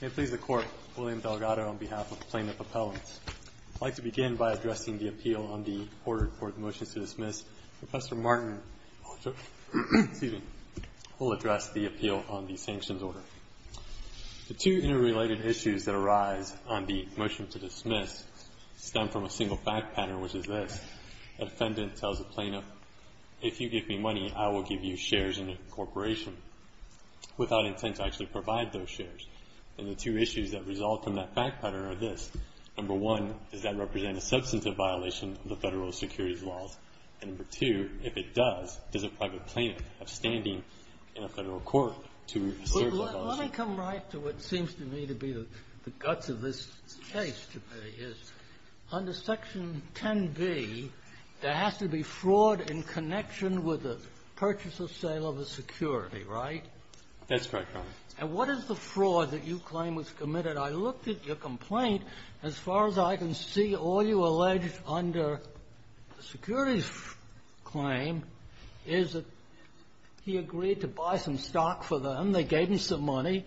I please the Court, William Delgado on behalf of Plaintiff Appellants. I'd like to begin by addressing the appeal on the order for the motion to dismiss. Professor Martin will address the appeal on the sanctions order. The two interrelated issues that arise on the motion to dismiss stem from a single fact pattern, which is this. The defendant tells the plaintiff, if you give me money, I will give you shares in a corporation without intent to actually provide those shares. And the two issues that result from that fact pattern are this. Number one, does that represent a substantive violation of the Federal Securities Laws? And number two, if it does, does a private plaintiff have standing in a Federal court to serve that motion? Dr. Martin Let me come right to what seems to me to be the guts of this case, to me, is under Section 10b, there has to be fraud in connection with the purchase or sale of a security, right? That's correct, Your Honor. And what is the fraud that you claim was committed? I looked at your complaint. As far as I can see, all you allege under the securities claim is that he agreed to buy some stock for them, they gave him some money,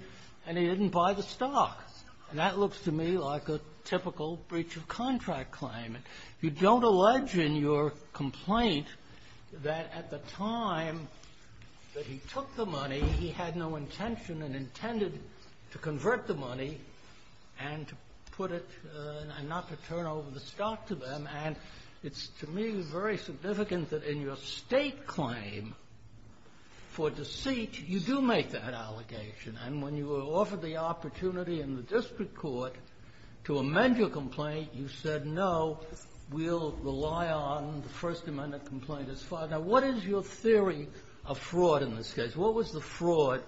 and he didn't buy the stock. And that looks to me like a typical breach of contract claim. You don't allege in your complaint that at the time that he took the money, he had no intention and intended to convert the money and to put it, and not to turn over the stock to them. And it's, to me, very significant that in your state claim for deceit, you do make that allegation. And when you were offered the opportunity in the district court to amend your complaint, you said, no, we'll rely on the First Amendment complaint as far. Now, what is your theory of fraud in this case? What was the fraud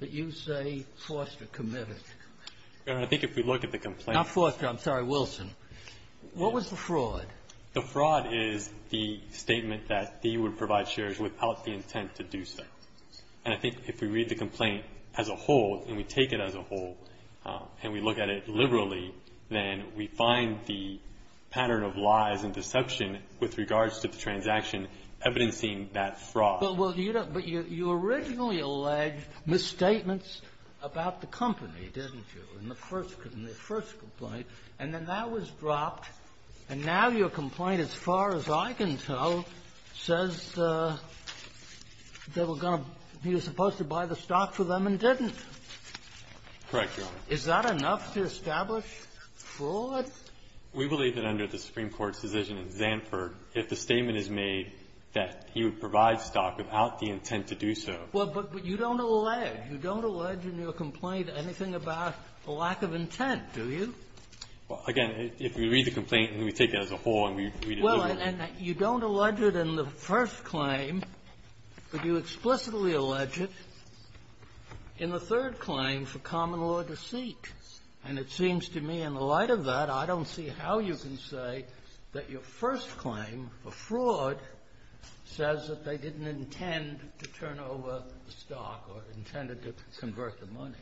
that you say Foster committed? Your Honor, I think if we look at the complaint — Not Foster. I'm sorry, Wilson. What was the fraud? The fraud is the statement that he would provide shares without the intent to do so. And I think if we read the complaint as a whole, and we take it as a whole, and we look at it liberally, then we find the pattern of lies and deception with regards to the transaction evidencing that fraud. But you originally alleged misstatements about the company, didn't you, in the first complaint? And then that was dropped. And now your complaint, as far as I can tell, says they were going to — he was supposed to buy the stock for them and didn't. Correct, Your Honor. Is that enough to establish fraud? We believe that under the Supreme Court's decision in Zanford, if the statement is made that he would provide stock without the intent to do so — Well, but you don't allege. You don't allege in your complaint anything about a lack of intent, do you? Well, again, if we read the complaint and we take it as a whole and we read it liberally. Well, and you don't allege it in the first claim, but you explicitly allege it in the second complaint. And it seems to me, in the light of that, I don't see how you can say that your first claim for fraud says that they didn't intend to turn over the stock or intended to convert the money.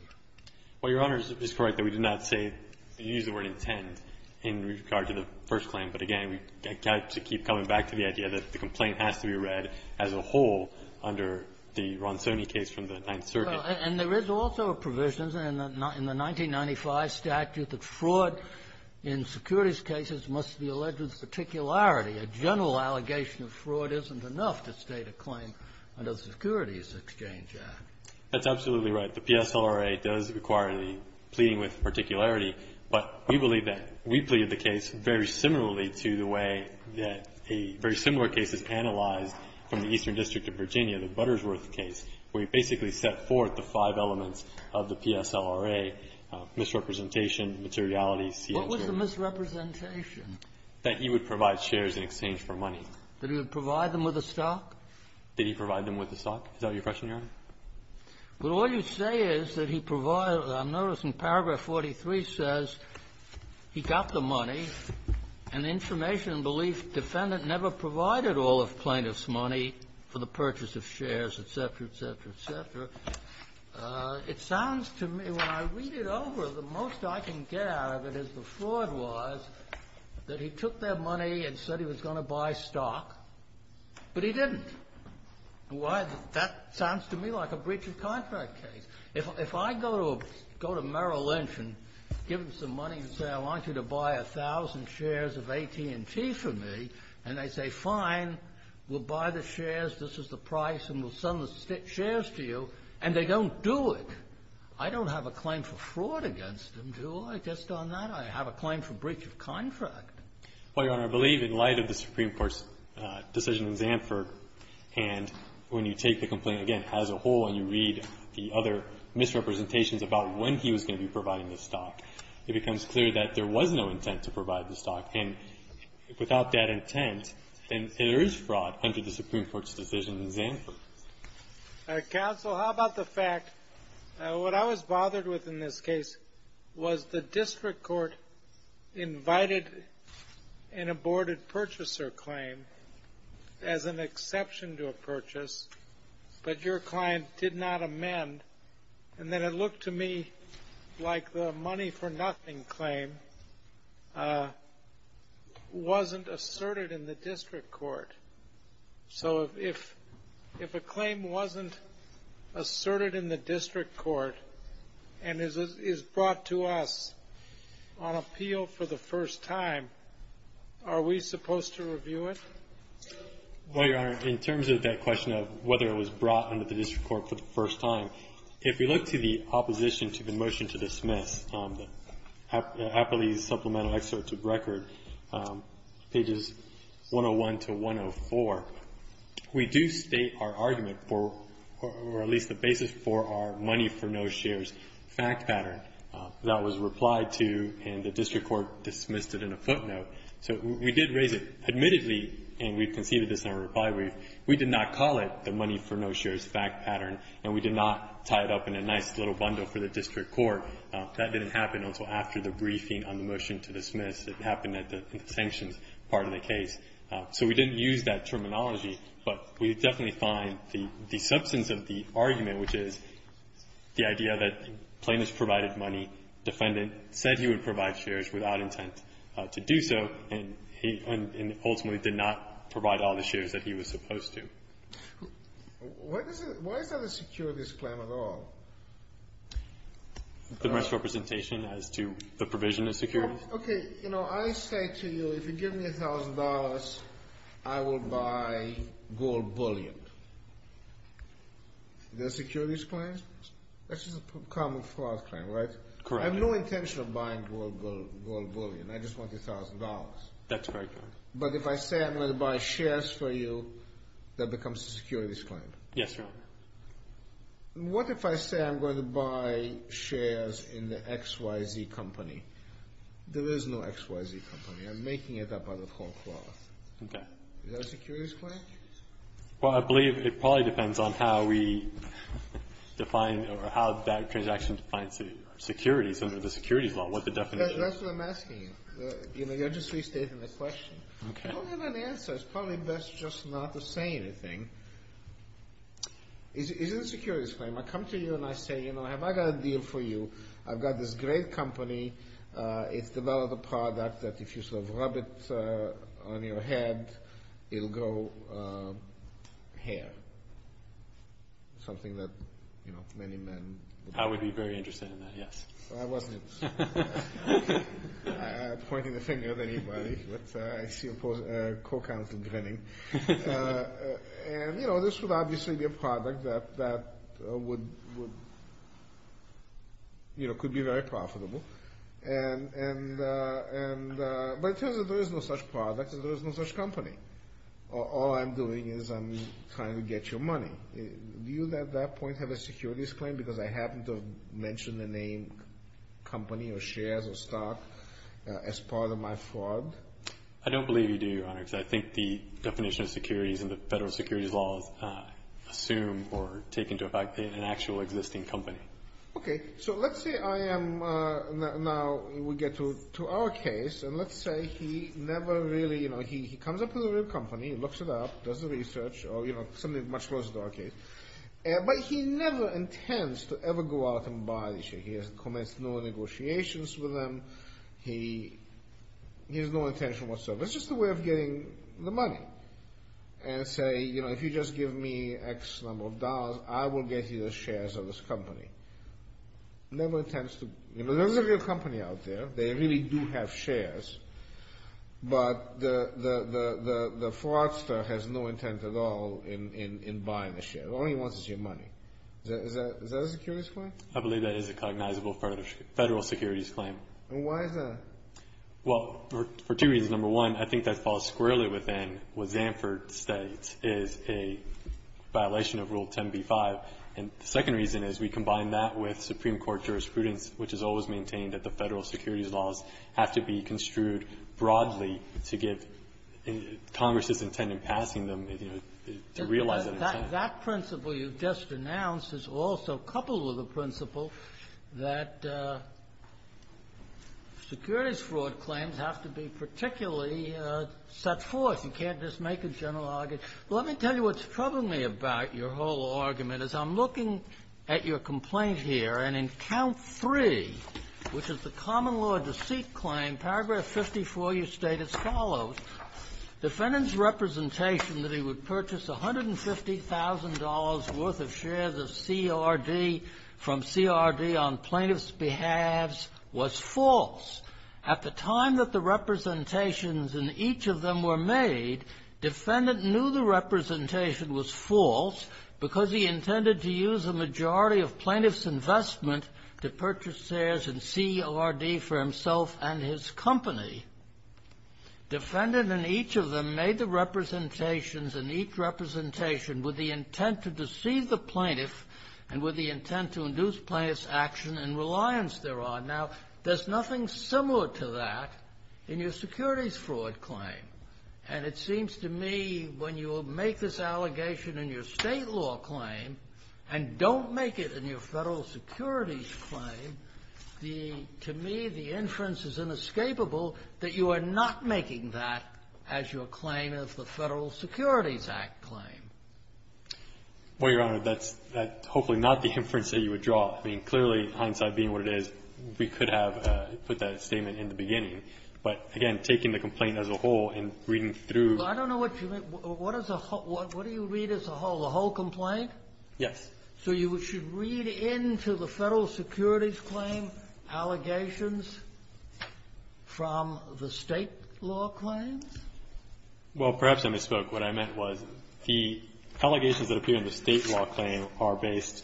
Well, Your Honor, it's correct that we did not say the use of the word intent in regard to the first claim. But, again, we have to keep coming back to the idea that the complaint has to be read as a whole under the Ronsoni case from the Ninth Circuit. And there is also a provision in the 1995 statute that fraud in securities cases must be alleged with particularity. A general allegation of fraud isn't enough to state a claim under the Securities Exchange Act. That's absolutely right. The PSLRA does require the pleading with particularity. But we believe that we pleaded the case very similarly to the way that a very similar case is analyzed from the Eastern District of Virginia, the Buttersworth case, where you basically set forth the five elements of the PSLRA, misrepresentation, materiality, CHR. What was the misrepresentation? That you would provide shares in exchange for money. That you would provide them with a stock? That you provide them with a stock. Is that your question, Your Honor? But all you say is that he provided them. Notice in paragraph 43 says he got the money, and the information and belief defendant never provided all of plaintiff's money for the purchase of shares, et cetera, et cetera, et cetera. It sounds to me, when I read it over, the most I can get out of it is the fraud was that he took their money and said he was going to buy stock, but he didn't. Why? That sounds to me like a breach of contract case. If I go to Merrill Lynch and give him some money and say I want you to buy a thousand shares of AT&T for me, and they say, fine, we'll buy the shares, this is the price, and we'll send the shares to you, and they don't do it, I don't have a claim for fraud against them, do I? Just on that, I have a claim for breach of contract. Well, Your Honor, I believe in light of the Supreme Court's decision in Zandford and when you take the complaint, again, as a whole and you read the other misrepresentations about when he was going to be providing the stock, it becomes clear that there was no intent to provide the stock, and without that intent, then there is fraud under the Supreme Court's decision in Zandford. Counsel, how about the fact, what I was bothered with in this case was the district court invited an aborted purchaser claim as an exception to a purchase, but your client did not amend, and then it looked to me like the money for nothing claim wasn't asserted in the district court. So if a claim wasn't asserted in the district court and is brought to us on appeal for the first time, are we supposed to review it? Well, Your Honor, in terms of that question of whether it was brought under the district court for the first time, if we look to the opposition to the motion to dismiss, Appley's supplemental excerpt to record, pages 101 to 104, we do state our argument for, or at least the basis for our money for no shares fact pattern that was replied to and the district court dismissed it in a footnote. So we did raise it admittedly, and we conceded this in our reply brief, we did not call it the money for no shares fact pattern, and we did not tie it up in a nice little bundle for the district court. That didn't happen until after the briefing on the motion to dismiss. It happened at the sanctions part of the case. So we didn't use that terminology, but we definitely find the substance of the argument, which is the idea that plaintiff provided money, defendant said he would provide shares without intent to do so, and he ultimately did not provide all the shares that he was supposed to. Why is that a securities claim at all? The misrepresentation as to the provision of securities? Okay, you know, I say to you, if you give me $1,000, I will buy gold bullion. Is that a securities claim? That's just a common fraud claim, right? Correct. I have no intention of buying gold bullion. I just want $1,000. That's correct, Your Honor. But if I say I'm going to buy shares for you, that becomes a securities claim? Yes, Your Honor. What if I say I'm going to buy shares in the XYZ company? There is no XYZ company. I'm making it up out of whole cloth. Okay. Is that a securities claim? Well, I believe it probably depends on how we define or how that transaction defines the securities under the securities law, what the definition is. That's what I'm asking you. You know, you're just restating the question. Okay. I don't have an answer. It's probably best just not to say anything. Is it a securities claim? I come to you and I say, you know, have I got a deal for you. I've got this great company. It's developed a product that if you sort of rub it on your head, it'll grow hair. Something that, you know, many men would do. I would be very interested in that, yes. I wasn't. I'm pointing the finger at anybody, but I see a co-counsel grinning. And, you know, this would obviously be a product that would, you know, could be very profitable. But it turns out there is no such product and there is no such company. All I'm doing is I'm trying to get your money. Do you at that point have a securities claim? Because I happen to mention the name company or shares or stock as part of my fraud? I don't believe you do, Your Honor, because I think the definition of securities and the federal securities laws assume or take into effect an actual existing company. Okay. So let's say I am now we get to our case, and let's say he never really, you know, he comes up with a real company, looks it up, does the research, or, you know, something much closer to our case. But he never intends to ever go out and buy the share. He has commenced no negotiations with them. He has no intention whatsoever. It's just a way of getting the money. And say, you know, if you just give me X number of dollars, I will get you the shares of this company. Never intends to. You know, there's a real company out there. They really do have shares. But the fraudster has no intent at all in buying the share. All he wants is your money. Is that a securities claim? I believe that is a cognizable federal securities claim. And why is that? Well, for two reasons. Number one, I think that falls squarely within what Zanford states is a violation of Rule 10b-5. And the second reason is we combine that with Supreme Court jurisprudence, which has always maintained that the federal securities laws have to be construed broadly to give Congress's intent in passing them, you know, to realize that intent. That principle you just announced is also coupled with a principle that securities fraud claims have to be particularly set forth. You can't just make a general argument. Well, let me tell you what's troubling me about your whole argument is I'm looking at your complaint here. And in Count 3, which is the common law deceit claim, Paragraph 54, you state as follows, Defendant's representation that he would purchase $150,000 worth of shares of CRD from CRD on plaintiff's behalves was false. At the time that the representations in each of them were made, defendant knew the representation was false because he intended to use a majority of plaintiff's investment to purchase shares in CRD for himself and his company. Defendant in each of them made the representations in each representation with the intent to deceive the plaintiff and with the intent to induce plaintiff's action and reliance thereon. Now, there's nothing similar to that in your securities fraud claim. And it seems to me when you make this allegation in your State law claim and don't make it in your Federal Securities claim, to me, the inference is inescapable that you are not making that as your claim of the Federal Securities Act claim. Well, Your Honor, that's hopefully not the inference that you would draw. I mean, clearly, hindsight being what it is, we could have put that statement in the beginning. But, again, taking the complaint as a whole and reading through the whole complaint Yes. So you should read into the Federal Securities claim allegations from the State law claims? Well, perhaps I misspoke. What I meant was the allegations that appear in the State law claim are based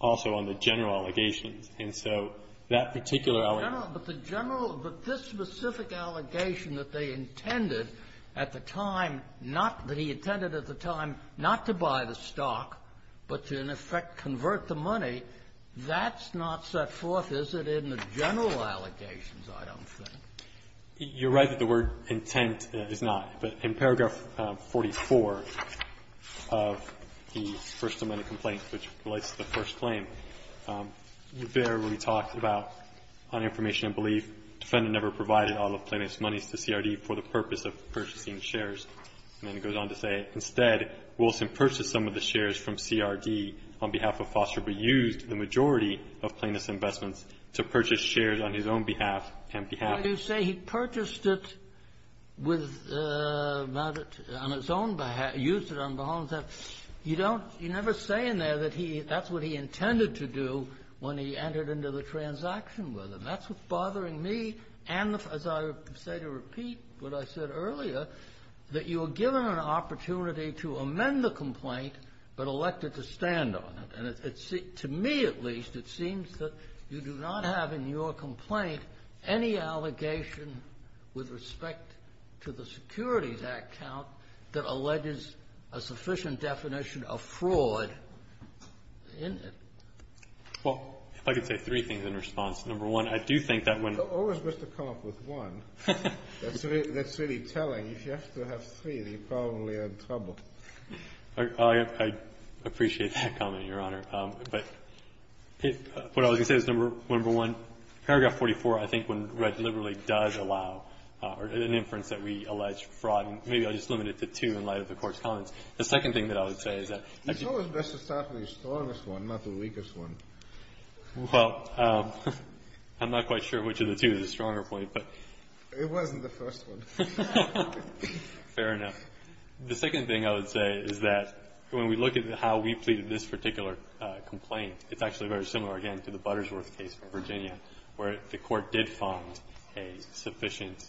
also on the general allegations. And so that particular allegation But the general, but this specific allegation that they intended at the time, not that but to, in effect, convert the money, that's not set forth, is it, in the general allegations, I don't think. You're right that the word intent is not. But in paragraph 44 of the first amendment complaint, which relates to the first claim, there we talked about, on information and belief, defendant never provided all of plaintiff's monies to CRD for the purpose of purchasing shares. And then it goes on to say, instead, Wilson purchased some of the shares from CRD on behalf of Foster, but used the majority of plaintiff's investments to purchase shares on his own behalf and behalf. Why do you say he purchased it with, not on his own behalf, used it on his own behalf? You don't, you never say in there that he, that's what he intended to do when he entered into the transaction with him. That's what's bothering me. And as I say to repeat what I said earlier, that you are given an opportunity to amend the complaint, but elected to stand on it. And it's, to me at least, it seems that you do not have in your complaint any allegation with respect to the Securities Act count that alleges a sufficient definition of fraud in it. Well, if I could say three things in response. Number one, I do think that when. It's always best to come up with one. That's really telling. If you have to have three, then you're probably in trouble. I appreciate that comment, Your Honor. But what I was going to say was number one, paragraph 44, I think when read liberally does allow an inference that we allege fraud, and maybe I'll just limit it to two in light of the Court's comments. The second thing that I would say is that. It's always best to start with the strongest one, not the weakest one. Well, I'm not quite sure which of the two is a stronger point, but. It wasn't the first one. Fair enough. The second thing I would say is that when we look at how we pleaded this particular complaint, it's actually very similar, again, to the Buttersworth case in Virginia where the Court did find a sufficient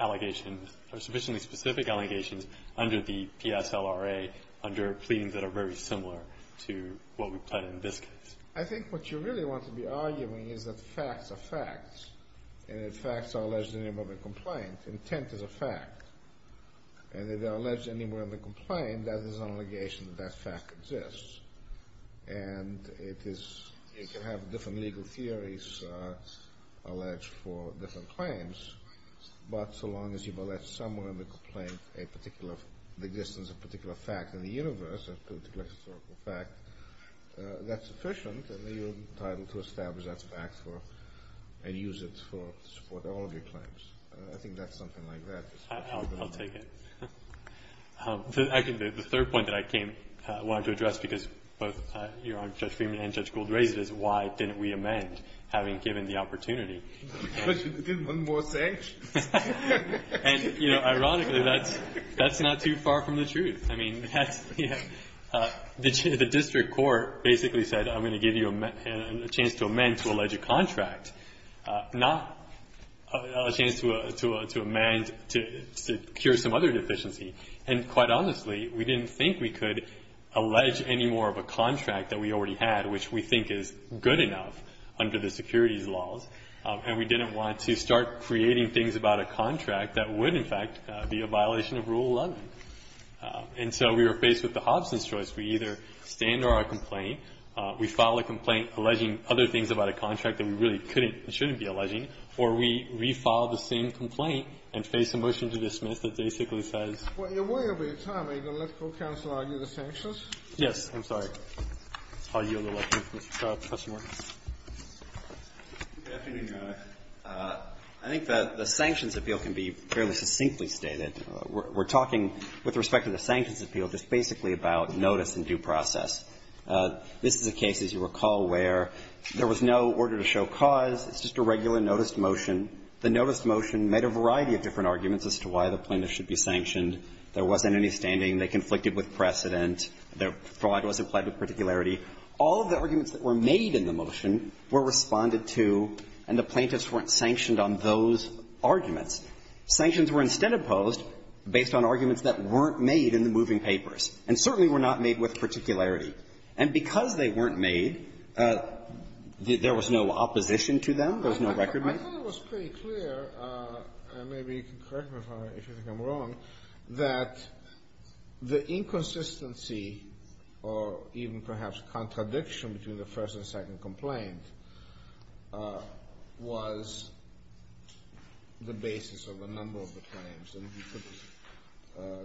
allegation or sufficiently specific allegations under the PSLRA, under pleadings that are very similar to what we plead in this case. I think what you really want to be arguing is that facts are facts. And that facts are alleged in the name of a complaint. Intent is a fact. And if they're alleged anywhere in the complaint, that is an allegation that that fact exists. And it is. You can have different legal theories alleged for different claims. But so long as you've alleged somewhere in the complaint a particular existence, a particular fact in the universe, a particular historical fact, that's sufficient and you're entitled to establish that fact and use it to support all of your claims. I think that's something like that. I'll take it. I think the third point that I came wanting to address, because both Your Honor, Judge Freeman and Judge Gould raised it, is why didn't we amend, having given the opportunity? Because you didn't want more sanctions. And, you know, ironically, that's not too far from the truth. I mean, that's, you know, the district court basically said I'm going to give you a chance to amend to allege a contract, not a chance to amend to cure some other deficiency. And quite honestly, we didn't think we could allege any more of a contract that we already had, which we think is good enough under the securities laws. And we didn't want to start creating things about a contract that would, in fact, be a violation of Rule 11. And so we were faced with the Hobson's choice. We either stand our complaint, we file a complaint alleging other things about a contract that we really couldn't and shouldn't be alleging, or we refile the same complaint and face a motion to dismiss that basically says ---- Well, you're way over your time. Are you going to let the court counsel argue the sanctions? Yes. I'm sorry. I'll yield the floor to Mr. Scott. Good afternoon, Your Honor. I think that the sanctions appeal can be fairly succinctly stated. We're talking with respect to the sanctions appeal just basically about notice and due process. This is a case, as you recall, where there was no order to show cause. It's just a regular notice motion. The notice motion made a variety of different arguments as to why the plaintiff should be sanctioned. There wasn't any standing. They conflicted with precedent. Fraud was implied with particularity. All of the arguments that were made in the motion were responded to, and the plaintiffs weren't sanctioned on those arguments. Sanctions were instead imposed based on arguments that weren't made in the moving papers, and certainly were not made with particularity. And because they weren't made, there was no opposition to them. There was no record making. Your Honor, it was pretty clear, and maybe you can correct me if you think I'm wrong, that the inconsistency or even perhaps contradiction between the first and second complaint was the basis of a number of the claims. And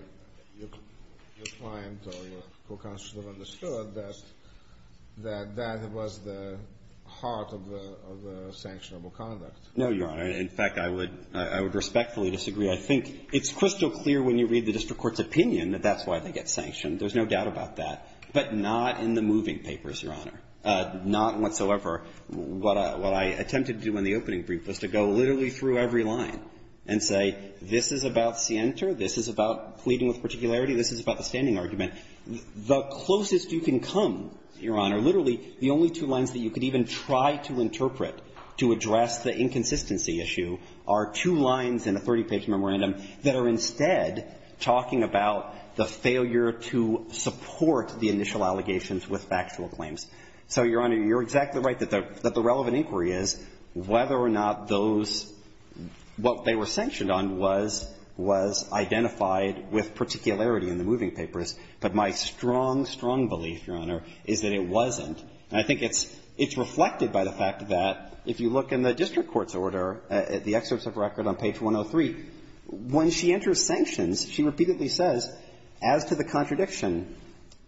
your client or your co-constituent understood that that was the heart of the sanctionable conduct. No, Your Honor. In fact, I would respectfully disagree. I think it's crystal clear when you read the district court's opinion that that's why they get sanctioned. There's no doubt about that. But not in the moving papers, Your Honor. Not whatsoever. What I attempted to do in the opening brief was to go literally through every line and say, this is about scienter, this is about pleading with particularity, this is about the standing argument. The closest you can come, Your Honor, literally the only two lines that you could even try to interpret to address the inconsistency issue are two lines in a 30-page memorandum that are instead talking about the failure to support the initial allegations with factual claims. So, Your Honor, you're exactly right that the relevant inquiry is whether or not those what they were sanctioned on was identified with particularity in the moving papers. But my strong, strong belief, Your Honor, is that it wasn't. And I think it's reflected by the fact that if you look in the district court's order, the excerpts of record on page 103, when she enters sanctions, she repeatedly says, as to the contradiction,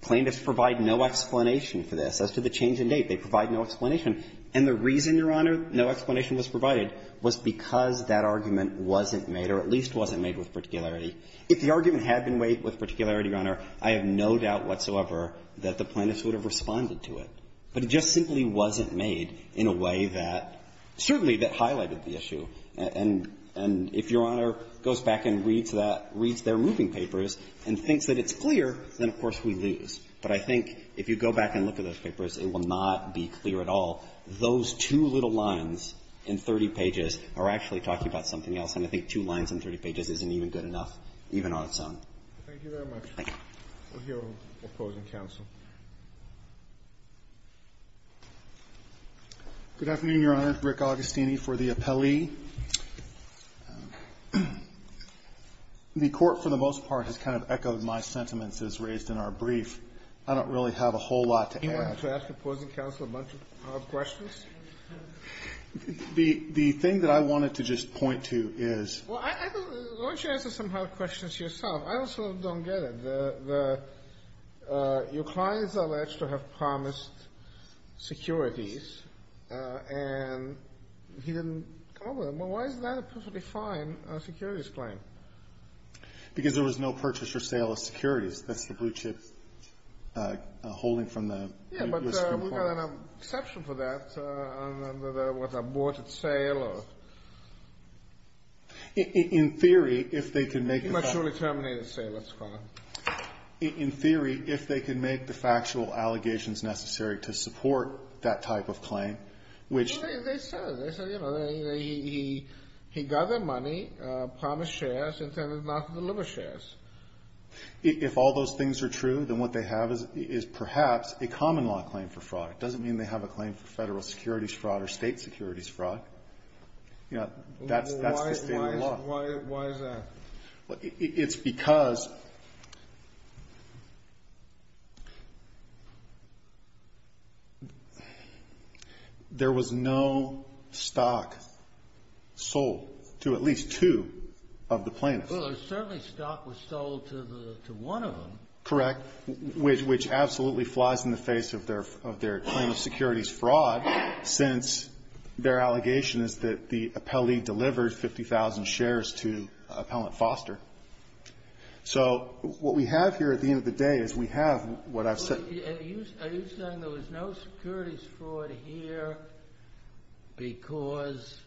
plaintiffs provide no explanation for this, as to the change in date. They provide no explanation. And the reason, Your Honor, no explanation was provided was because that argument wasn't made, or at least wasn't made with particularity. If the argument had been made with particularity, Your Honor, I have no doubt whatsoever that the plaintiffs would have responded to it. But it just simply wasn't made in a way that certainly that highlighted the issue. And if Your Honor goes back and reads that, reads their moving papers, and thinks that it's clear, then, of course, we lose. But I think if you go back and look at those papers, it will not be clear at all. Those two little lines in 30 pages are actually talking about something else. And I think two lines in 30 pages isn't even good enough, even on its own. Thank you very much. Thank you. We'll hear from the opposing counsel. Good afternoon, Your Honor. Rick Augustini for the appellee. The Court, for the most part, has kind of echoed my sentiments as raised in our brief. I don't really have a whole lot to add. Do you want to ask opposing counsel a bunch of hard questions? The thing that I wanted to just point to is ---- Why don't you answer some hard questions yourself? I also don't get it. Your client is alleged to have promised securities, and he didn't come over them. Well, why is that a perfectly fine securities claim? Because there was no purchase or sale of securities. That's the blue chip holding from the ---- Yeah, but we've got an exception for that under the, what, the aborted sale or ---- In theory, if they could make the ---- The maturity terminated sale, let's call it. In theory, if they could make the factual allegations necessary to support that type of claim, which ---- They said, you know, he got their money, promised shares, intended not to deliver shares. If all those things are true, then what they have is perhaps a common-law claim for fraud. It doesn't mean they have a claim for Federal securities fraud or State securities fraud. You know, that's the standard law. Why is that? It's because there was no stock sold to at least two of the plaintiffs. Well, certainly stock was sold to one of them. Correct. Which absolutely flies in the face of their claim of securities fraud, since their allegation is that the appellee delivered 50,000 shares to Appellant Foster. So what we have here at the end of the day is we have what I've said ---- Are you saying there was no securities fraud here because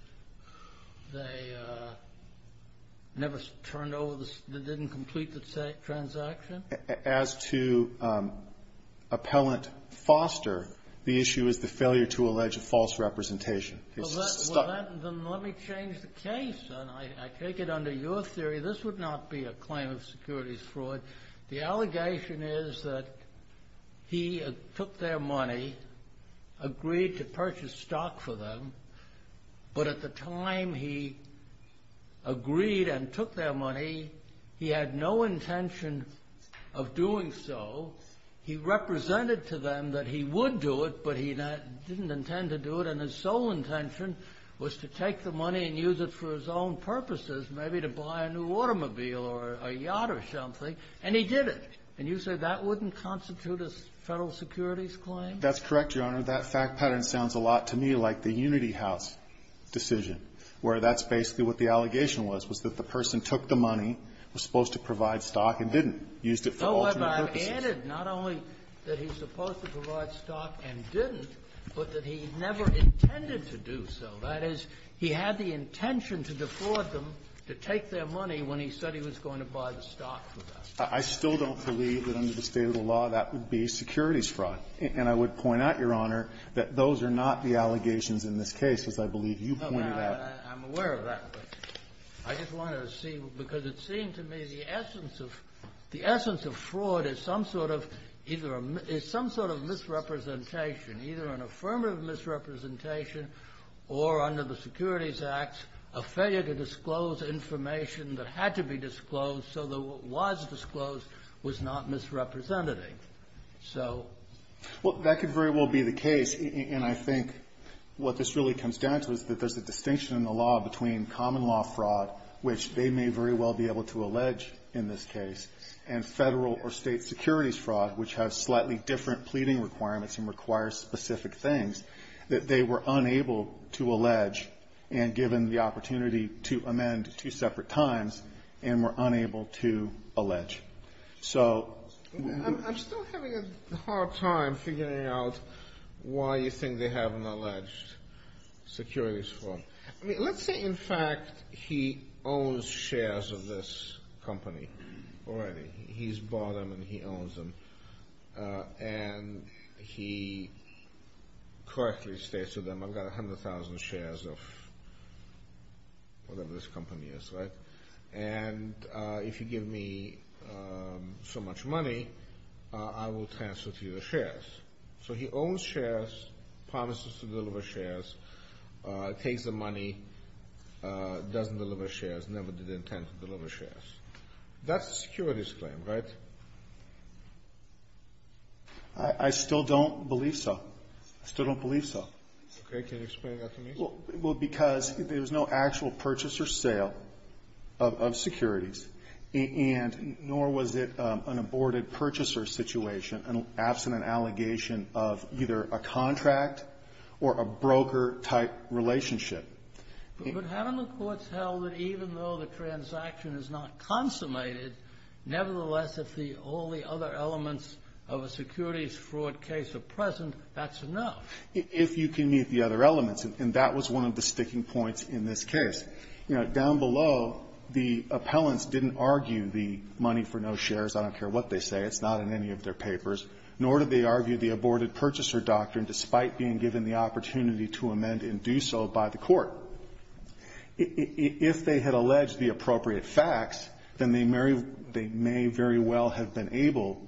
they never turned over the ---- didn't complete the transaction? As to Appellant Foster, the issue is the failure to allege a false representation. It's just stock. Then let me change the case. I take it under your theory this would not be a claim of securities fraud. The allegation is that he took their money, agreed to purchase stock for them. But at the time he agreed and took their money, he had no intention of doing so. He represented to them that he would do it, but he didn't intend to do it. And his sole intention was to take the money and use it for his own purposes, maybe to buy a new automobile or a yacht or something, and he did it. And you say that wouldn't constitute a Federal securities claim? That's correct, Your Honor. That fact pattern sounds a lot to me like the Unity House decision, where that's basically what the allegation was, was that the person took the money, was supposed to provide stock, and didn't, used it for alternate purposes. Kennedy, not only that he's supposed to provide stock and didn't, but that he never intended to do so. That is, he had the intention to defraud them to take their money when he said he was going to buy the stock for them. I still don't believe that under the state of the law that would be securities fraud. And I would point out, Your Honor, that those are not the allegations in this case, as I believe you pointed out. I'm aware of that, but I just wanted to see, because it seemed to me the essence of the essence of fraud is some sort of either a – is some sort of misrepresentation, either an affirmative misrepresentation or, under the Securities Act, a failure to disclose information that had to be disclosed so that what was disclosed was not misrepresented. So… Well, that could very well be the case. And I think what this really comes down to is that there's a distinction in the law between common law fraud, which they may very well be able to allege in this case, and federal or state securities fraud, which has slightly different pleading requirements and requires specific things that they were unable to allege, and given the opportunity to amend two separate times, and were unable to allege. So… I'm still having a hard time figuring out why you think they have an alleged securities fraud. Let's say, in fact, he owns shares of this company already. He's bought them and he owns them. And he correctly states to them, I've got 100,000 shares of whatever this company is, right? And if you give me so much money, I will transfer to you the shares. So he owns shares, promises to deliver shares, takes the money, doesn't deliver shares, never did intend to deliver shares. That's a securities claim, right? I still don't believe so. I still don't believe so. Okay. Can you explain that to me? Well, because there's no actual purchase or sale of securities, and nor was it an allegation of either a contract or a broker-type relationship. But haven't the courts held that even though the transaction is not consummated, nevertheless, if all the other elements of a securities fraud case are present, that's enough? If you can meet the other elements. And that was one of the sticking points in this case. You know, down below, the appellants didn't argue the money for no shares. I don't care what they say. It's not in any of their papers. Nor did they argue the aborted purchaser doctrine, despite being given the opportunity to amend and do so by the court. If they had alleged the appropriate facts, then they may very well have been able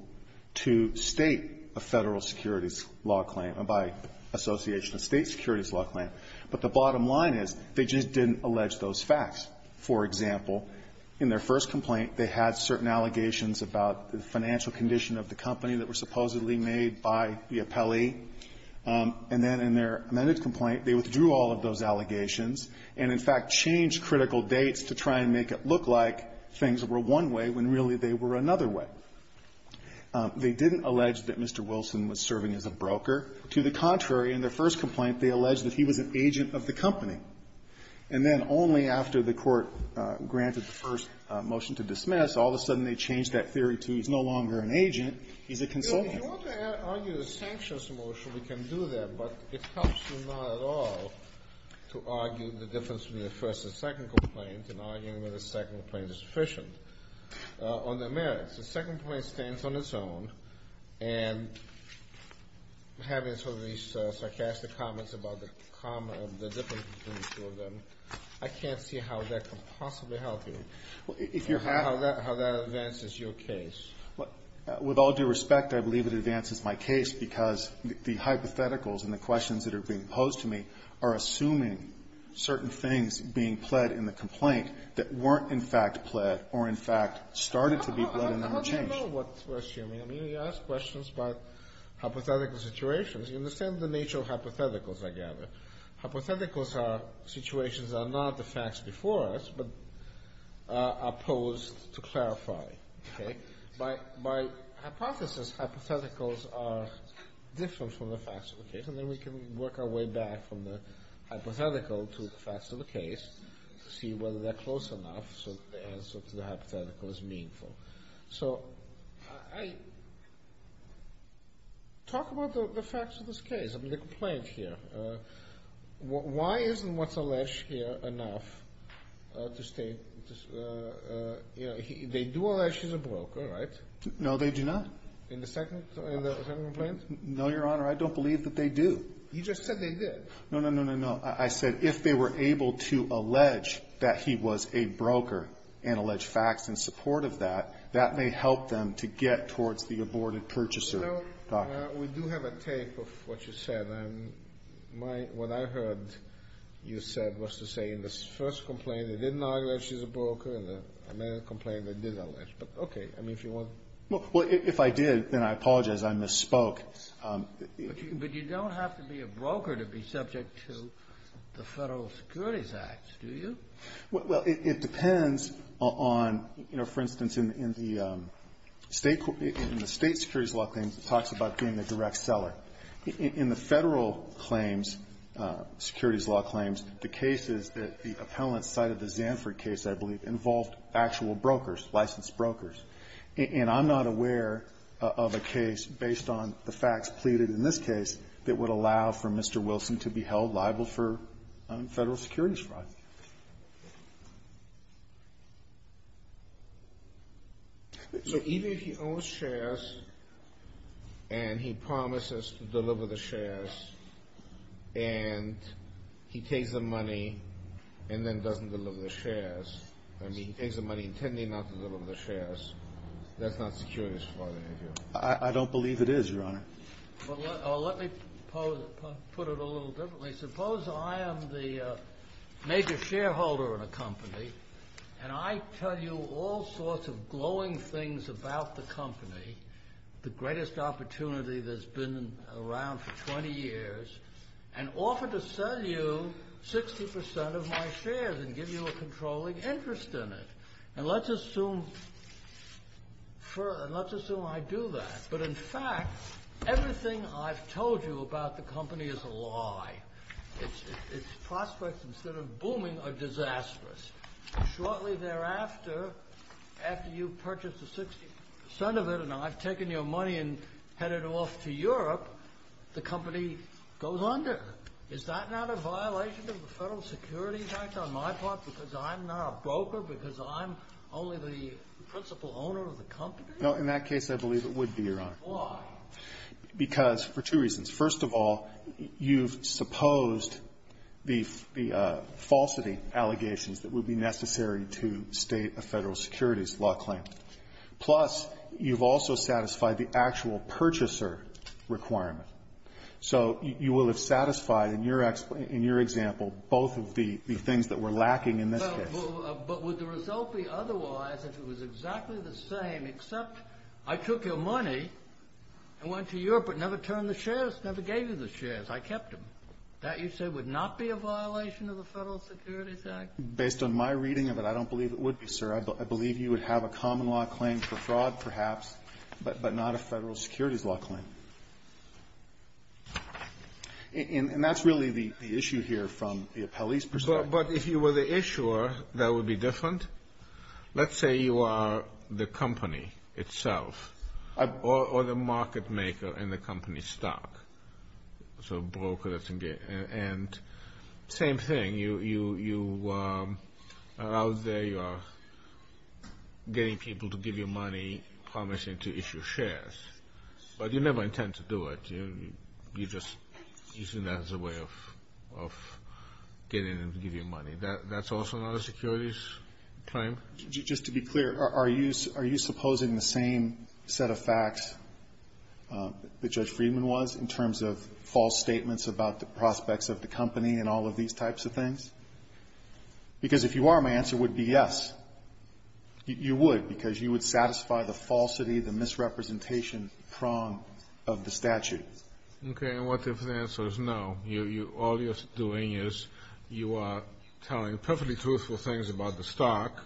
to state a Federal securities law claim by association of state securities law claim. But the bottom line is, they just didn't allege those facts. For example, in their first complaint, they had certain allegations about the financial condition of the company that were supposedly made by the appellee. And then in their amended complaint, they withdrew all of those allegations and, in fact, changed critical dates to try and make it look like things were one way when, really, they were another way. They didn't allege that Mr. Wilson was serving as a broker. To the contrary, in their first complaint, they alleged that he was an agent of the company. And then only after the Court granted the first motion to dismiss, all of a sudden they changed that theory to he's no longer an agent, he's a consultant. Kennedy. If you want to argue the sanctions motion, we can do that, but it helps you not at all to argue the difference between the first and second complaint, and arguing whether the second complaint is sufficient on their merits. The second complaint stands on its own, and having sort of these sarcastic comments about the common or the difference between the two of them, I can't see how that could possibly help you. If you're happy. How that advances your case. With all due respect, I believe it advances my case because the hypotheticals and the questions that are being posed to me are assuming certain things being pled in the complaint that weren't, in fact, pled or, in fact, started to be pled and then were changed. I don't know what you're assuming. I mean, you ask questions about hypothetical situations. You understand the nature of hypotheticals, I gather. Hypotheticals are situations that are not the facts before us, but are posed to clarify, okay? By hypothesis, hypotheticals are different from the facts of the case, and then we can work our way back from the hypothetical to the facts of the case to see whether they're close enough so the answer to the hypothetical is meaningful. So I talk about the facts of this case. I mean, the complaint here, why isn't what's alleged here enough to state, you know, they do allege he's a broker, right? No, they do not. In the second complaint? No, Your Honor. I don't believe that they do. You just said they did. No, no, no, no, no. I said if they were able to allege that he was a broker and allege facts in support of that, that may help them to get towards the aborted purchaser. You know, we do have a tape of what you said, and what I heard you said was to say in the first complaint they didn't allege he's a broker, and in the second complaint they did allege, but okay. I mean, if you want. Well, if I did, then I apologize. I misspoke. But you don't have to be a broker to be subject to the Federal Securities Act, do you? Well, it depends on, you know, for instance, in the State Securities Law claims it talks about being a direct seller. In the Federal claims, securities law claims, the cases that the appellant cited, the Zanford case, I believe, involved actual brokers, licensed brokers. And I'm not aware of a case based on the facts pleaded in this case that would allow for Mr. Wilson to be held liable for Federal securities fraud. So even if he owns shares, and he promises to deliver the shares, and he takes the money, and then doesn't deliver the shares, I mean, he takes the money intending not to deliver the shares, that's not securities fraud, is it? I don't believe it is, Your Honor. Well, let me put it a little differently. Suppose I am the major shareholder in a company, and I tell you all sorts of glowing things about the company, the greatest opportunity that's been around for 20 years, and offer to sell you 60% of my shares and give you a controlling interest in it. And let's assume I do that. But, in fact, everything I've told you about the company is a lie. Its prospects, instead of booming, are disastrous. Shortly thereafter, after you purchase the 60% of it, and I've taken your money and headed off to Europe, the company goes under. Is that not a violation of the Federal Securities Act on my part, because I'm not a broker, because I'm only the principal owner of the company? No. In that case, I believe it would be, Your Honor. Why? Because for two reasons. First of all, you've supposed the falsity allegations that would be necessary to state a Federal Securities law claim. Plus, you've also satisfied the actual purchaser requirement. So you will have satisfied, in your example, both of the things that we're lacking in this case. But would the result be otherwise if it was exactly the same, except I took your money and went to Europe, but never turned the shares, never gave you the shares. I kept them. That, you say, would not be a violation of the Federal Securities Act? Based on my reading of it, I don't believe it would be, sir. I believe you would have a common law claim for fraud, perhaps, but not a Federal Securities law claim. And that's really the issue here from the appellee's perspective. But if you were the issuer, that would be different. Let's say you are the company itself, or the market maker in the company's stock. So a broker that's in there. And same thing. You are out there, you are getting people to give you money, promising to issue shares, but you never intend to do it. You're just using that as a way of getting them to give you money. That's also not a securities claim? Just to be clear, are you supposing the same set of facts that Judge Friedman was in terms of false statements about the prospects of the company and all of these types of things? Because if you are, my answer would be yes. You would, because you would satisfy the falsity, the misrepresentation prong of the statute. Okay. And what if the answer is no, all you're doing is you are telling perfectly truthful things about the stock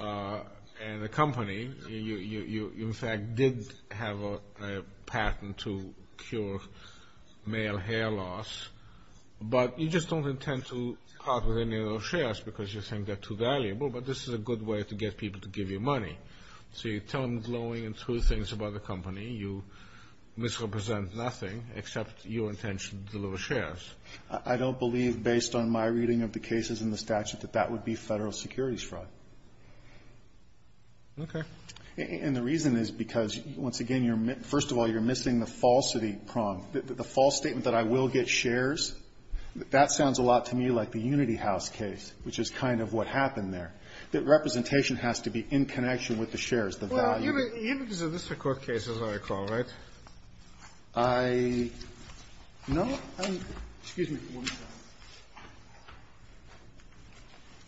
and the company. You, in fact, did have a patent to cure male hair loss, but you just don't intend to partner with any of those shares because you think they're too valuable. But this is a good way to get people to give you money. So you tell them glowing and true things about the company. You misrepresent nothing except your intention to deliver shares. I don't believe, based on my reading of the cases in the statute, that that would be Federal securities fraud. Okay. And the reason is because, once again, you're missing, first of all, you're missing the falsity prong, the false statement that I will get shares. That sounds a lot to me like the Unity House case, which is kind of what happened there, that representation has to be in connection with the shares, the value. Unity is a district court case, as I recall, right? I know. Excuse me.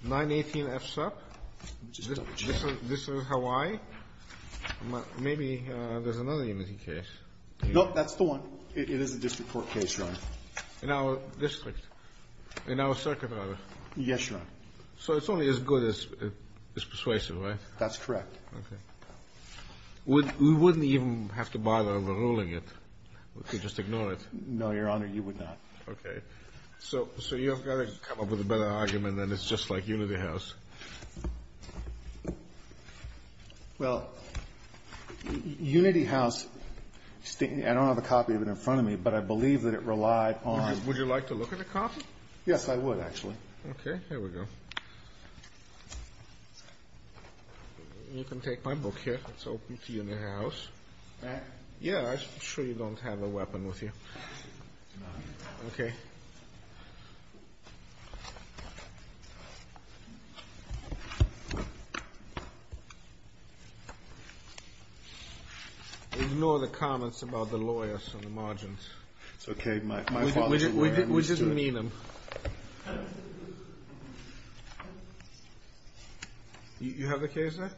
918 F sub. This is Hawaii. Maybe there's another Unity case. Nope. That's the one. It is a district court case, Ron. In our district, in our circuit, rather. Yes, Ron. So it's only as good as persuasive, right? That's correct. Okay. We wouldn't even have to bother overruling it. We could just ignore it. No, Your Honor, you would not. Okay. So you've got to come up with a better argument than it's just like Unity House. Well, Unity House, I don't have a copy of it in front of me, but I believe that it relied on Would you like to look at a copy? Yes, I would, actually. Okay. Here we go. You can take my book here. It's open to you in the house. Yeah. I'm sure you don't have a weapon with you. Okay. Ignore the comments about the lawyers on the margins. It's okay. My father's a lawyer. You have the case there?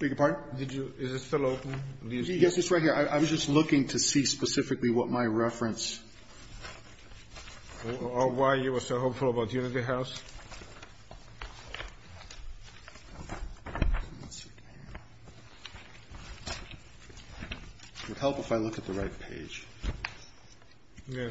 Beg your pardon? Is it still open? Yes, it's right here. I was just looking to see specifically what my reference. Or why you were so hopeful about Unity House. It would help if I look at the right page. Yeah.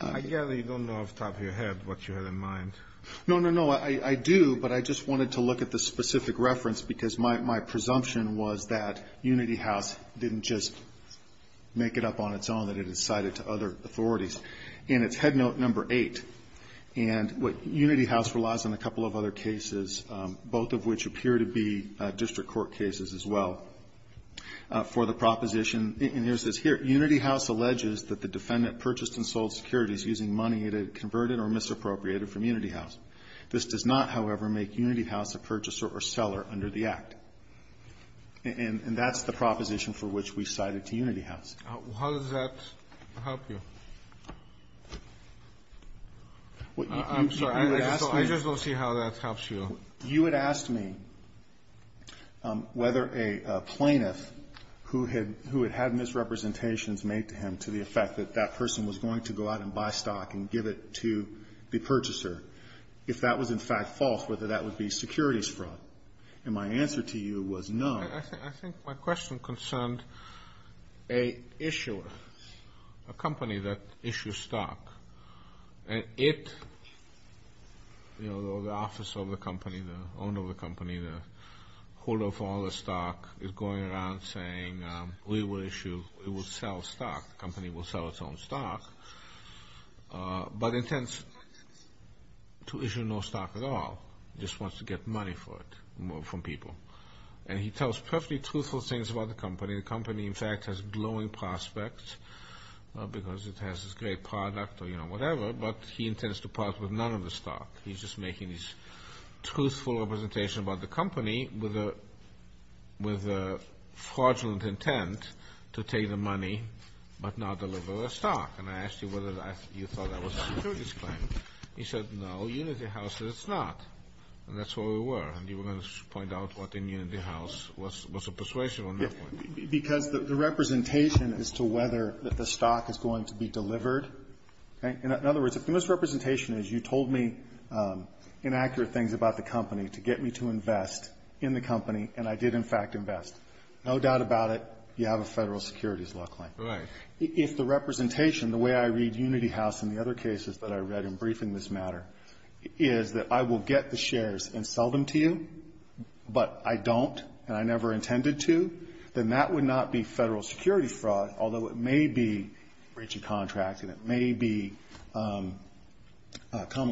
I gather you don't know off the top of your head what you had in mind. No, no, no. I do. But I just wanted to look at the specific reference because my presumption was that Unity House didn't just make it up on its own, that it had cited to other authorities. And it's head note number eight. And what Unity House relies on a couple of other cases, both of which appear to be district court cases as well, for the proposition. And here it says, here, Unity House alleges that the defendant purchased and sold securities using money it had converted or misappropriated from Unity House. This does not, however, make Unity House a purchaser or seller under the Act. And that's the proposition for which we cited to Unity House. How does that help you? I'm sorry. I just want to see how that helps you. You had asked me whether a plaintiff who had had misrepresentations made to him to the effect that that person was going to go out and buy stock and give it to the purchaser, if that was, in fact, false, whether that would be securities fraud. And my answer to you was no. I think my question concerned a issuer, a company that issues stock. And it, you know, the office of the company, the owner of the company, the holder of all the stock, is going around saying, we will issue, it will sell stock, the company will sell its own stock, but intends to issue no stock at all, just wants to get money for it from people. And he tells perfectly truthful things about the company. The company, in fact, has glowing prospects because it has this great product or, you know, whatever, but he intends to part with none of the stock. He's just making this truthful representation about the company with a fraudulent intent to take the money but not deliver the stock. And I asked you whether you thought that was a securities claim. He said, no, Unity House says it's not. And that's where we were. And you were going to point out what in Unity House was a persuasion on that point. Because the representation as to whether the stock is going to be delivered, in other words, if the misrepresentation is you told me inaccurate things about the company to get me to invest in the company, and I did, in fact, invest, no doubt about it, you have a Federal Securities law claim. Right. So if the representation, the way I read Unity House and the other cases that I read in briefing this matter, is that I will get the shares and sell them to you, but I don't and I never intended to, then that would not be Federal Securities fraud, although it may be breaching contracts and it may be common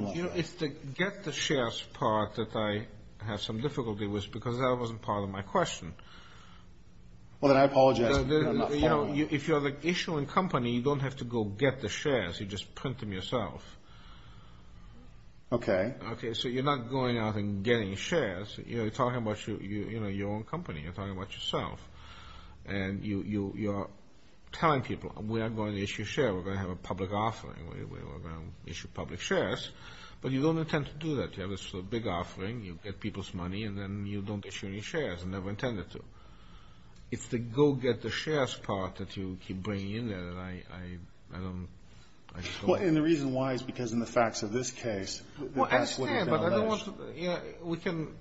law. You know, it's the get the shares part that I have some difficulty with because that wasn't part of my question. Well, then I apologize. You know, if you have an issuing company, you don't have to go get the shares, you just print them yourself. Okay. Okay, so you're not going out and getting shares, you're talking about your own company, you're talking about yourself. And you're telling people, we're going to issue a share, we're going to have a public offering, we're going to issue public shares. But you don't intend to do that, you have this big offering, you get people's money, and then you don't issue any shares, never intended to. It's the go get the shares part that you keep bringing in, and I don't, I just don't. And the reason why is because in the facts of this case, that's what you found out. Well, I understand, but I don't want to, you know, we can,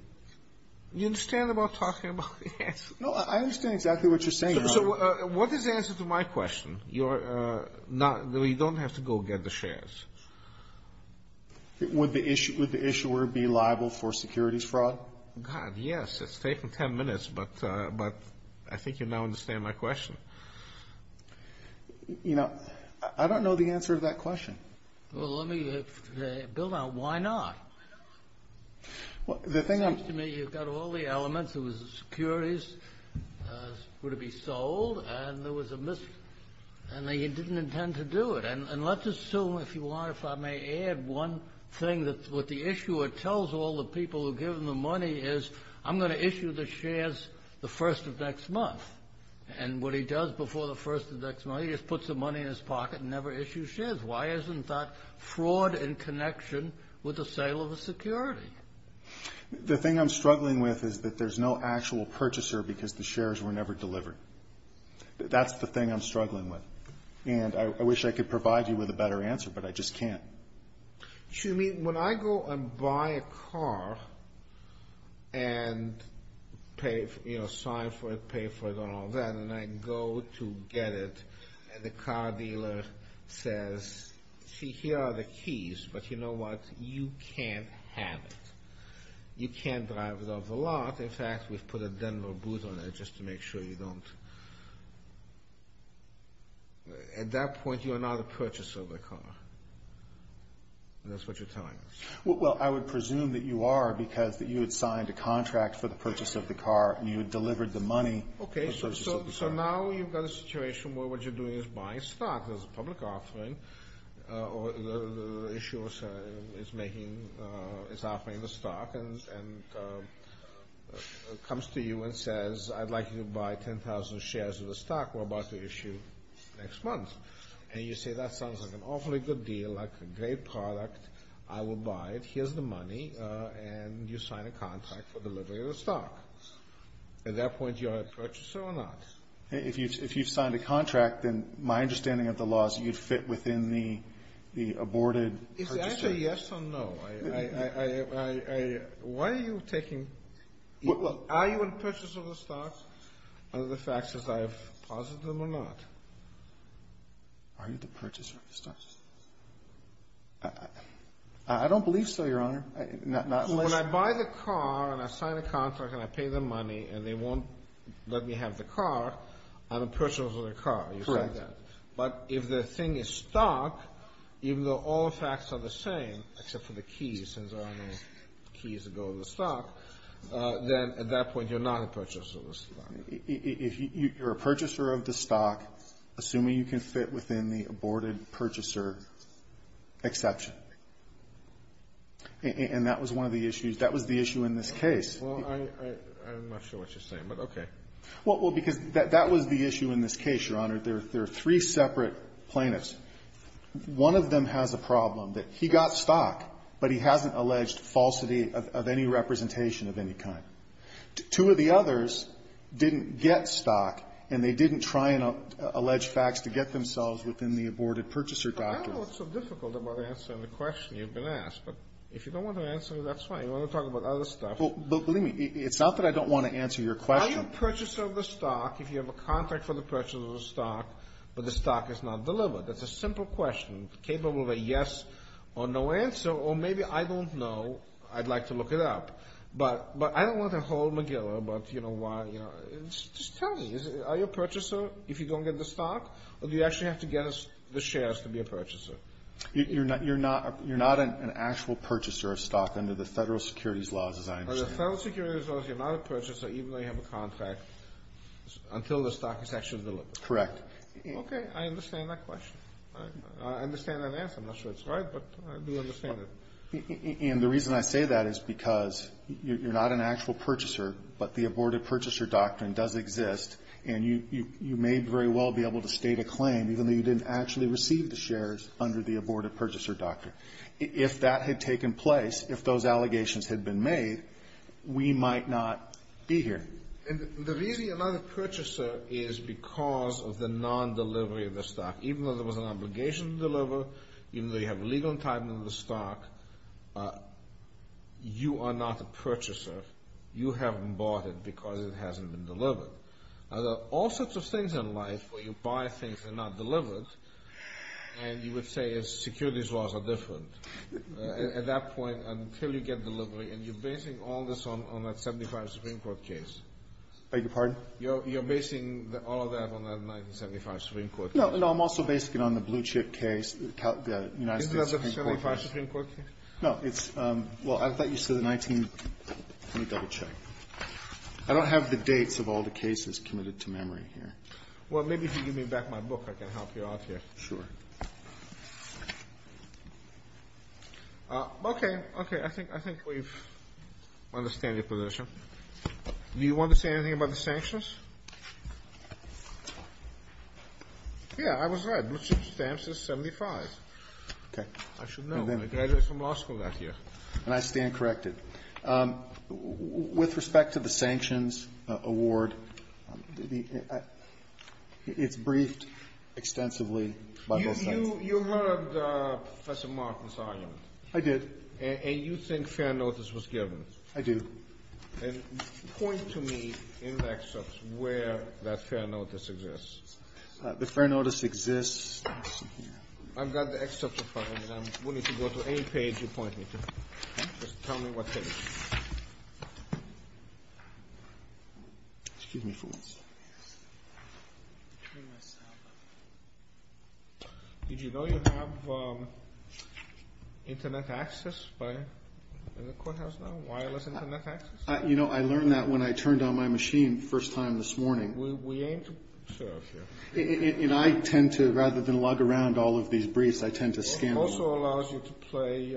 you understand about talking about the answer? No, I understand exactly what you're saying, Your Honor. So what is the answer to my question? You're not, you don't have to go get the shares. Would the issuer be liable for securities fraud? God, yes, it's taken 10 minutes, but I think you now understand my question. You know, I don't know the answer to that question. Well, let me, Bill, now, why not? Well, the thing I'm. It seems to me you've got all the elements, it was securities were to be sold, and there was a mis, and they didn't intend to do it. And let's assume, if you want, if I may add one thing that's what the issuer tells all the people who give him the money is, I'm going to issue the shares the first of next month. And what he does before the first of next month, he just puts the money in his pocket and never issues shares. Why isn't that fraud in connection with the sale of a security? The thing I'm struggling with is that there's no actual purchaser because the shares were never delivered. That's the thing I'm struggling with. And I wish I could provide you with a better answer, but I just can't. You mean, when I go and buy a car and pay, you know, sign for it, pay for it and all that, and I go to get it, and the car dealer says, see, here are the keys, but you know what, you can't have it. You can't drive it off the lot. In fact, we've put a Denver booth on it just to make sure you don't. At that point, you are not a purchaser of the car. That's what you're telling us. Well, I would presume that you are because you had signed a contract for the purchase of the car and you had delivered the money. OK, so now you've got a situation where what you're doing is buying stock. There's a public offering or the issuer is offering the stock and comes to you and says, I'd like you to buy 10,000 shares of the stock. We're about to issue next month. And you say, that sounds like an awfully good deal, like a great product. I will buy it. Here's the money. And you sign a contract for delivery of the stock. At that point, you are a purchaser or not? If you if you've signed a contract, then my understanding of the law is you'd fit within the the aborted. Is that a yes or no? Why are you taking? Well, are you a purchaser of the stock? Are the facts as I have posited them or not? Are you the purchaser of the stock? I don't believe so, Your Honor. Not unless. When I buy the car and I sign a contract and I pay the money and they won't let me have the car, I'm a purchaser of the car. You say that. But if the thing is stock, even though all the facts are the same, except for the keys, since there are no keys to go to the stock. Then at that point, you're not a purchaser of the stock. If you're a purchaser of the stock, assuming you can fit within the aborted purchaser exception. And that was one of the issues. That was the issue in this case. Well, I'm not sure what you're saying, but OK. Well, because that was the issue in this case, Your Honor. There are three separate plaintiffs. One of them has a problem that he got stock, but he hasn't alleged falsity of any representation of any kind. Two of the others didn't get stock and they didn't try and allege facts to get themselves within the aborted purchaser doctrine. I don't know what's so difficult about answering the question you've been asked, but if you don't want to answer it, that's fine. You want to talk about other stuff. Well, believe me, it's not that I don't want to answer your question. Are you a purchaser of the stock if you have a contract for the purchase of the stock, but the stock is not delivered? That's a simple question capable of a yes or no answer. Or maybe I don't know. I'd like to look it up, but I don't want to hold McGillivre. But, you know, why? You know, just tell me, are you a purchaser if you don't get the stock or do you actually have to get the shares to be a purchaser? You're not you're not you're not an actual purchaser of stock under the federal securities laws, as I understand. Federal securities laws, you're not a purchaser even though you have a contract until the stock is actually delivered. Correct. OK, I understand that question. I understand that answer. I'm not sure it's right, but I do understand it. And the reason I say that is because you're not an actual purchaser, but the aborted purchaser doctrine does exist. And you may very well be able to state a claim even though you didn't actually receive the shares under the aborted purchaser doctrine. If that had taken place, if those allegations had been made, we might not be here. And the reason you're not a purchaser is because of the non-delivery of the stock. Even though there was an obligation to deliver, even though you have legal entitlement to the stock, you are not a purchaser. You haven't bought it because it hasn't been delivered. There are all sorts of things in life where you buy things that are not delivered. And you would say securities laws are different at that point until you get delivery. And you're basing all this on that 1975 Supreme Court case. Beg your pardon? You're basing all of that on that 1975 Supreme Court case. No, no, I'm also basing it on the blue chip case, the United States Supreme Court case. Is it a 1975 Supreme Court case? No, it's, well, I thought you said the 19, let me double check. I don't have the dates of all the cases committed to memory here. Well, maybe if you give me back my book, I can help you out here. Sure. Okay. Okay. I think, I think we've understand your position. Do you want to say anything about the sanctions? Yeah, I was right. Blue chip stamps is 1975. Okay. I should know. I graduated from law school that year. And I stand corrected. With respect to the sanctions award, it's briefed extensively by both sides. You heard Professor Martin's argument. I did. And you think fair notice was given. I do. And point to me in the excerpts where that fair notice exists. The fair notice exists. I've got the excerpts of mine and I'm willing to go to any page you point me to. Just tell me what page. Excuse me for one second. Did you know you have internet access by, in the courthouse now, wireless internet access? You know, I learned that when I turned on my machine first time this morning. We aim to serve you. And I tend to, rather than log around all of these briefs, I tend to scan them. Also allows you to play,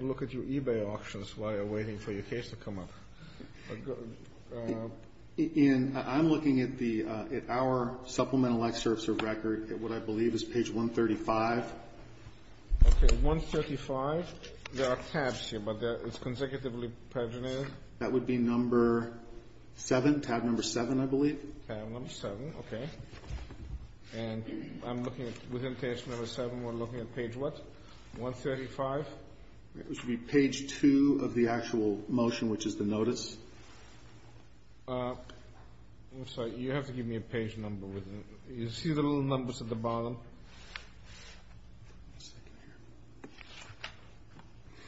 look at your eBay auctions while you're waiting for your case to come up. In, I'm looking at the, at our supplemental excerpts of record at what I believe is page 135. Okay, 135. There are tabs here, but it's consecutively paginated. That would be number seven, tab number seven, I believe. Tab number seven. Okay. And I'm looking at, within page number seven, we're looking at page what? 135? It should be page two of the actual motion, which is the notice. I'm sorry. You have to give me a page number with it. You see the little numbers at the bottom?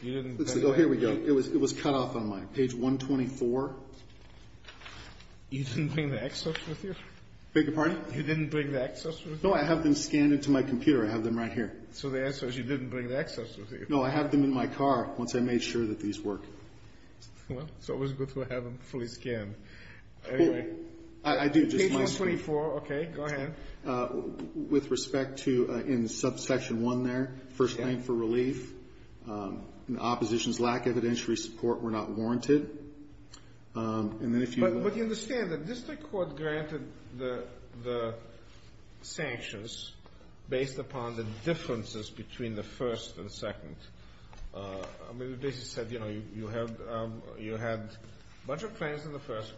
You didn't. Let's go. Here we go. It was, it was cut off on my. Page 124. You didn't bring the excerpts with you? Beg your pardon? You didn't bring the excerpts with you? No, I have them scanned into my computer. I have them right here. So the answer is you didn't bring the excerpts with you? No, I have them in my car once I made sure that these work. Well, it's always good to have them fully scanned. Anyway. I do just want to. Page 124. Okay, go ahead. With respect to, in subsection one there, first thing for relief. The opposition's lack of evidentiary support were not warranted. And then if you. But, but you understand that district court granted the, the sanctions based upon the differences between the first and second. I mean, it basically said, you know, you have, you had a bunch of claims in the first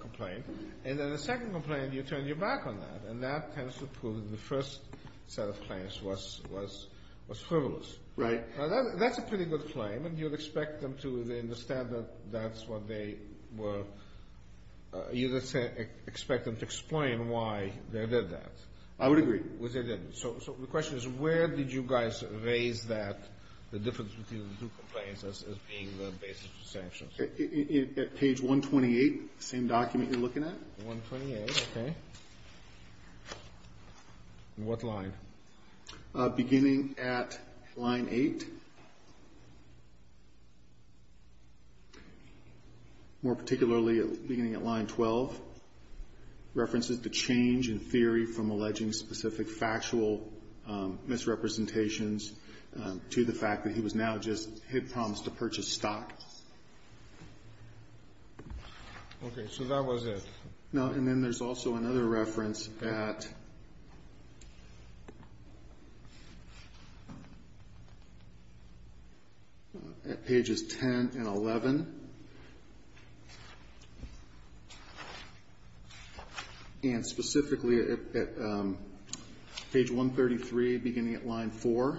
complaint, and then the second complaint, you turn your back on that. And that tends to prove that the first set of claims was, was, was frivolous. Right. Now that's a pretty good claim. And you'd expect them to understand that that's what they were, you'd expect them to explain why they did that. I would agree. Was it, so, so the question is, where did you guys raise that, the difference between the two complaints as, as being the basis for sanctions? It, it, at page 128, same document you're looking at. 128, okay. What line? Beginning at line 8. More particularly, beginning at line 12, references to change in theory from alleging specific factual misrepresentations to the fact that he was now just, he had promised to purchase stock. Okay. So that was it. Now, and then there's also another reference at, at pages 10 and 11, and specifically at, at page 133, beginning at line 4.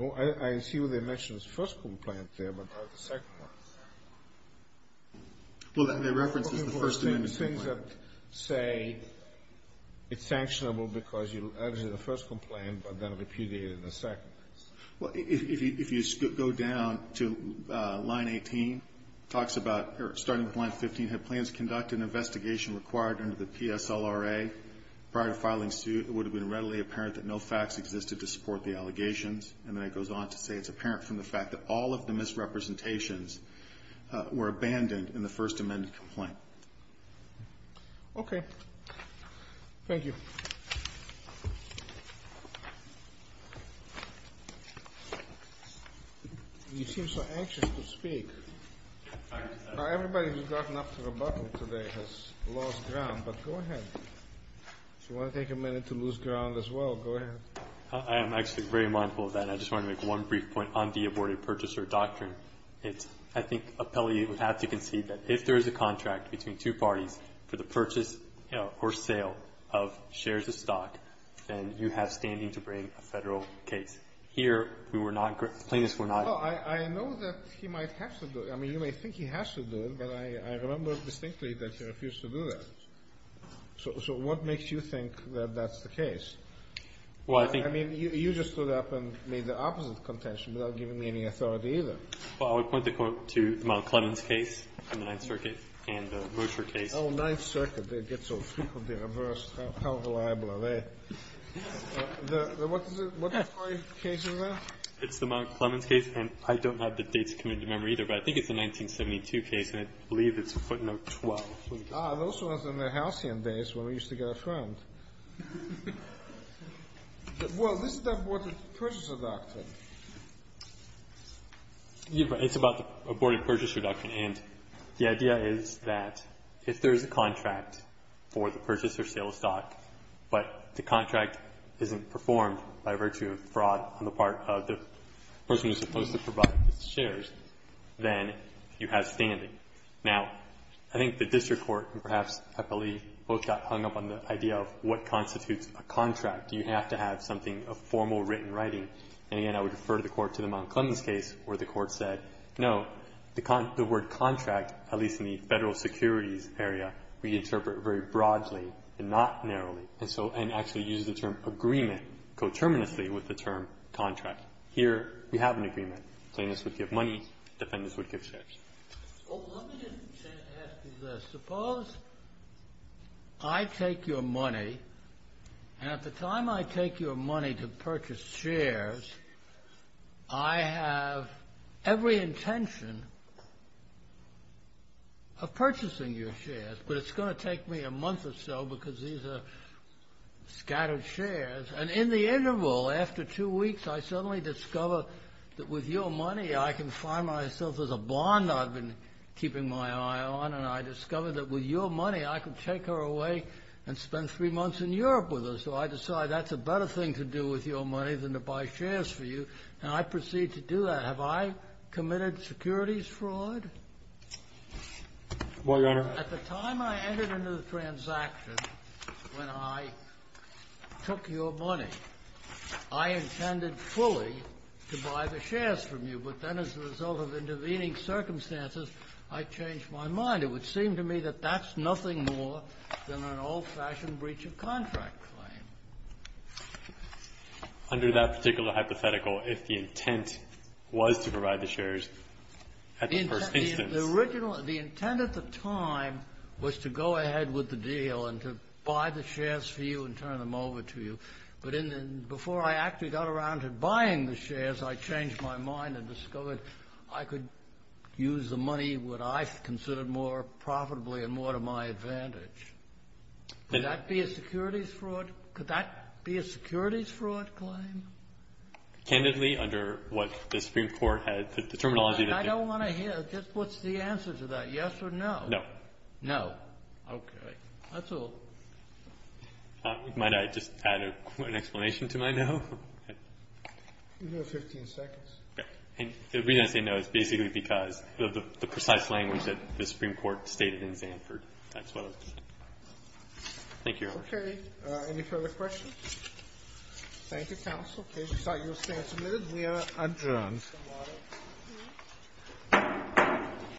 Oh, I, I see what they mentioned was the first complaint there, but not the second one. Well, that, that reference is the first amendment complaint. The things that say it's sanctionable because you alleged the first complaint, but then repudiated the second. Well, if you, if you go down to line 18, it talks about, or starting with line 15, had plans to conduct an investigation required under the PSLRA prior to filing suit, it would have been readily apparent that no facts existed to support the allegations, and then it goes on to say it's apparent from the fact that all of the misrepresentations were abandoned in the first amendment complaint. Okay. Thank you. You seem so anxious to speak. Now, everybody who's gotten up to rebuttal today has lost ground, but go ahead. If you want to take a minute to lose ground as well, go ahead. I am actually very mindful of that, and I just want to make one brief point on the aborted purchaser doctrine. It's, I think, appellee would have to concede that if there is a contract between two parties for the purchase, you know, or sale of shares of stock, then you have standing to bring a federal case. Here, we were not, plaintiffs were not. Well, I know that he might have to do it. I mean, you may think he has to do it, but I remember distinctly that he refused to do that. So what makes you think that that's the case? Well, I think. I mean, you just stood up and made the opposite contention without giving me any authority either. Well, I would point the quote to the Mount Clemens case on the Ninth Circuit and the Rocher case. Oh, Ninth Circuit. They get so frequently reversed. How reliable are they? The, the, what's the, what's the story of the case in there? It's the Mount Clemens case, and I don't have the dates come into memory either, but I think it's the 1972 case, and I believe it's footnote 12. Ah, those ones are in the Halcyon days when we used to get a friend. Well, this is the aborted purchaser doctrine. It's about the aborted purchaser doctrine, and the idea is that if there's a contract for the purchaser of sales stock, but the contract isn't performed by virtue of fraud on the part of the person who's supposed to provide the shares, then you have standing. Now, I think the district court, perhaps, I believe, both got hung up on the idea of what constitutes a contract. Do you have to have something of formal written writing? And again, I would refer the court to the Mount Clemens case where the court said, no, the, the word contract, at least in the Federal Securities area, we interpret very broadly and not narrowly, and so, and actually uses the term agreement coterminously with the term contract. Here, we have an agreement. Plaintiffs would give money. Defendants would give shares. Oh, let me just ask you this. Suppose I take your money, and at the time I take your money to purchase shares, I have every intention of purchasing your shares, but it's going to take me a month or so because these are scattered shares, and in the interval, after two weeks, I suddenly discover that with your money, I can find myself as a blonde. Now, I've been keeping my eye on, and I discover that with your money, I can take her away and spend three months in Europe with her, so I decide that's a better thing to do with your money than to buy shares for you, and I proceed to do that. Have I committed securities fraud? Well, Your Honor. At the time I entered into the transaction, when I took your money, I intended fully to buy the shares from you, but then as a result of intervening circumstances, I changed my mind. It would seem to me that that's nothing more than an old-fashioned breach of contract claim. Under that particular hypothetical, if the intent was to provide the shares at the first instance. The original, the intent at the time was to go ahead with the deal and to buy the shares for you and turn them over to you, but before I actually got around to buying the shares, I changed my mind and discovered I could use the money, what I considered more profitably and more to my advantage. Could that be a securities fraud? Could that be a securities fraud claim? Candidly, under what the Supreme Court had, the terminology that they. And I don't want to hear, just what's the answer to that? Yes or no? No. No. Okay. That's all. Might I just add an explanation to my no? You have 15 seconds. Yeah. And the reason I say no is basically because of the precise language that the Supreme Court stated in Zanford. That's what I was going to say. Thank you, Your Honor. Okay. Any further questions? Thank you, counsel. In case you thought you were standing, we are adjourned. Thank you.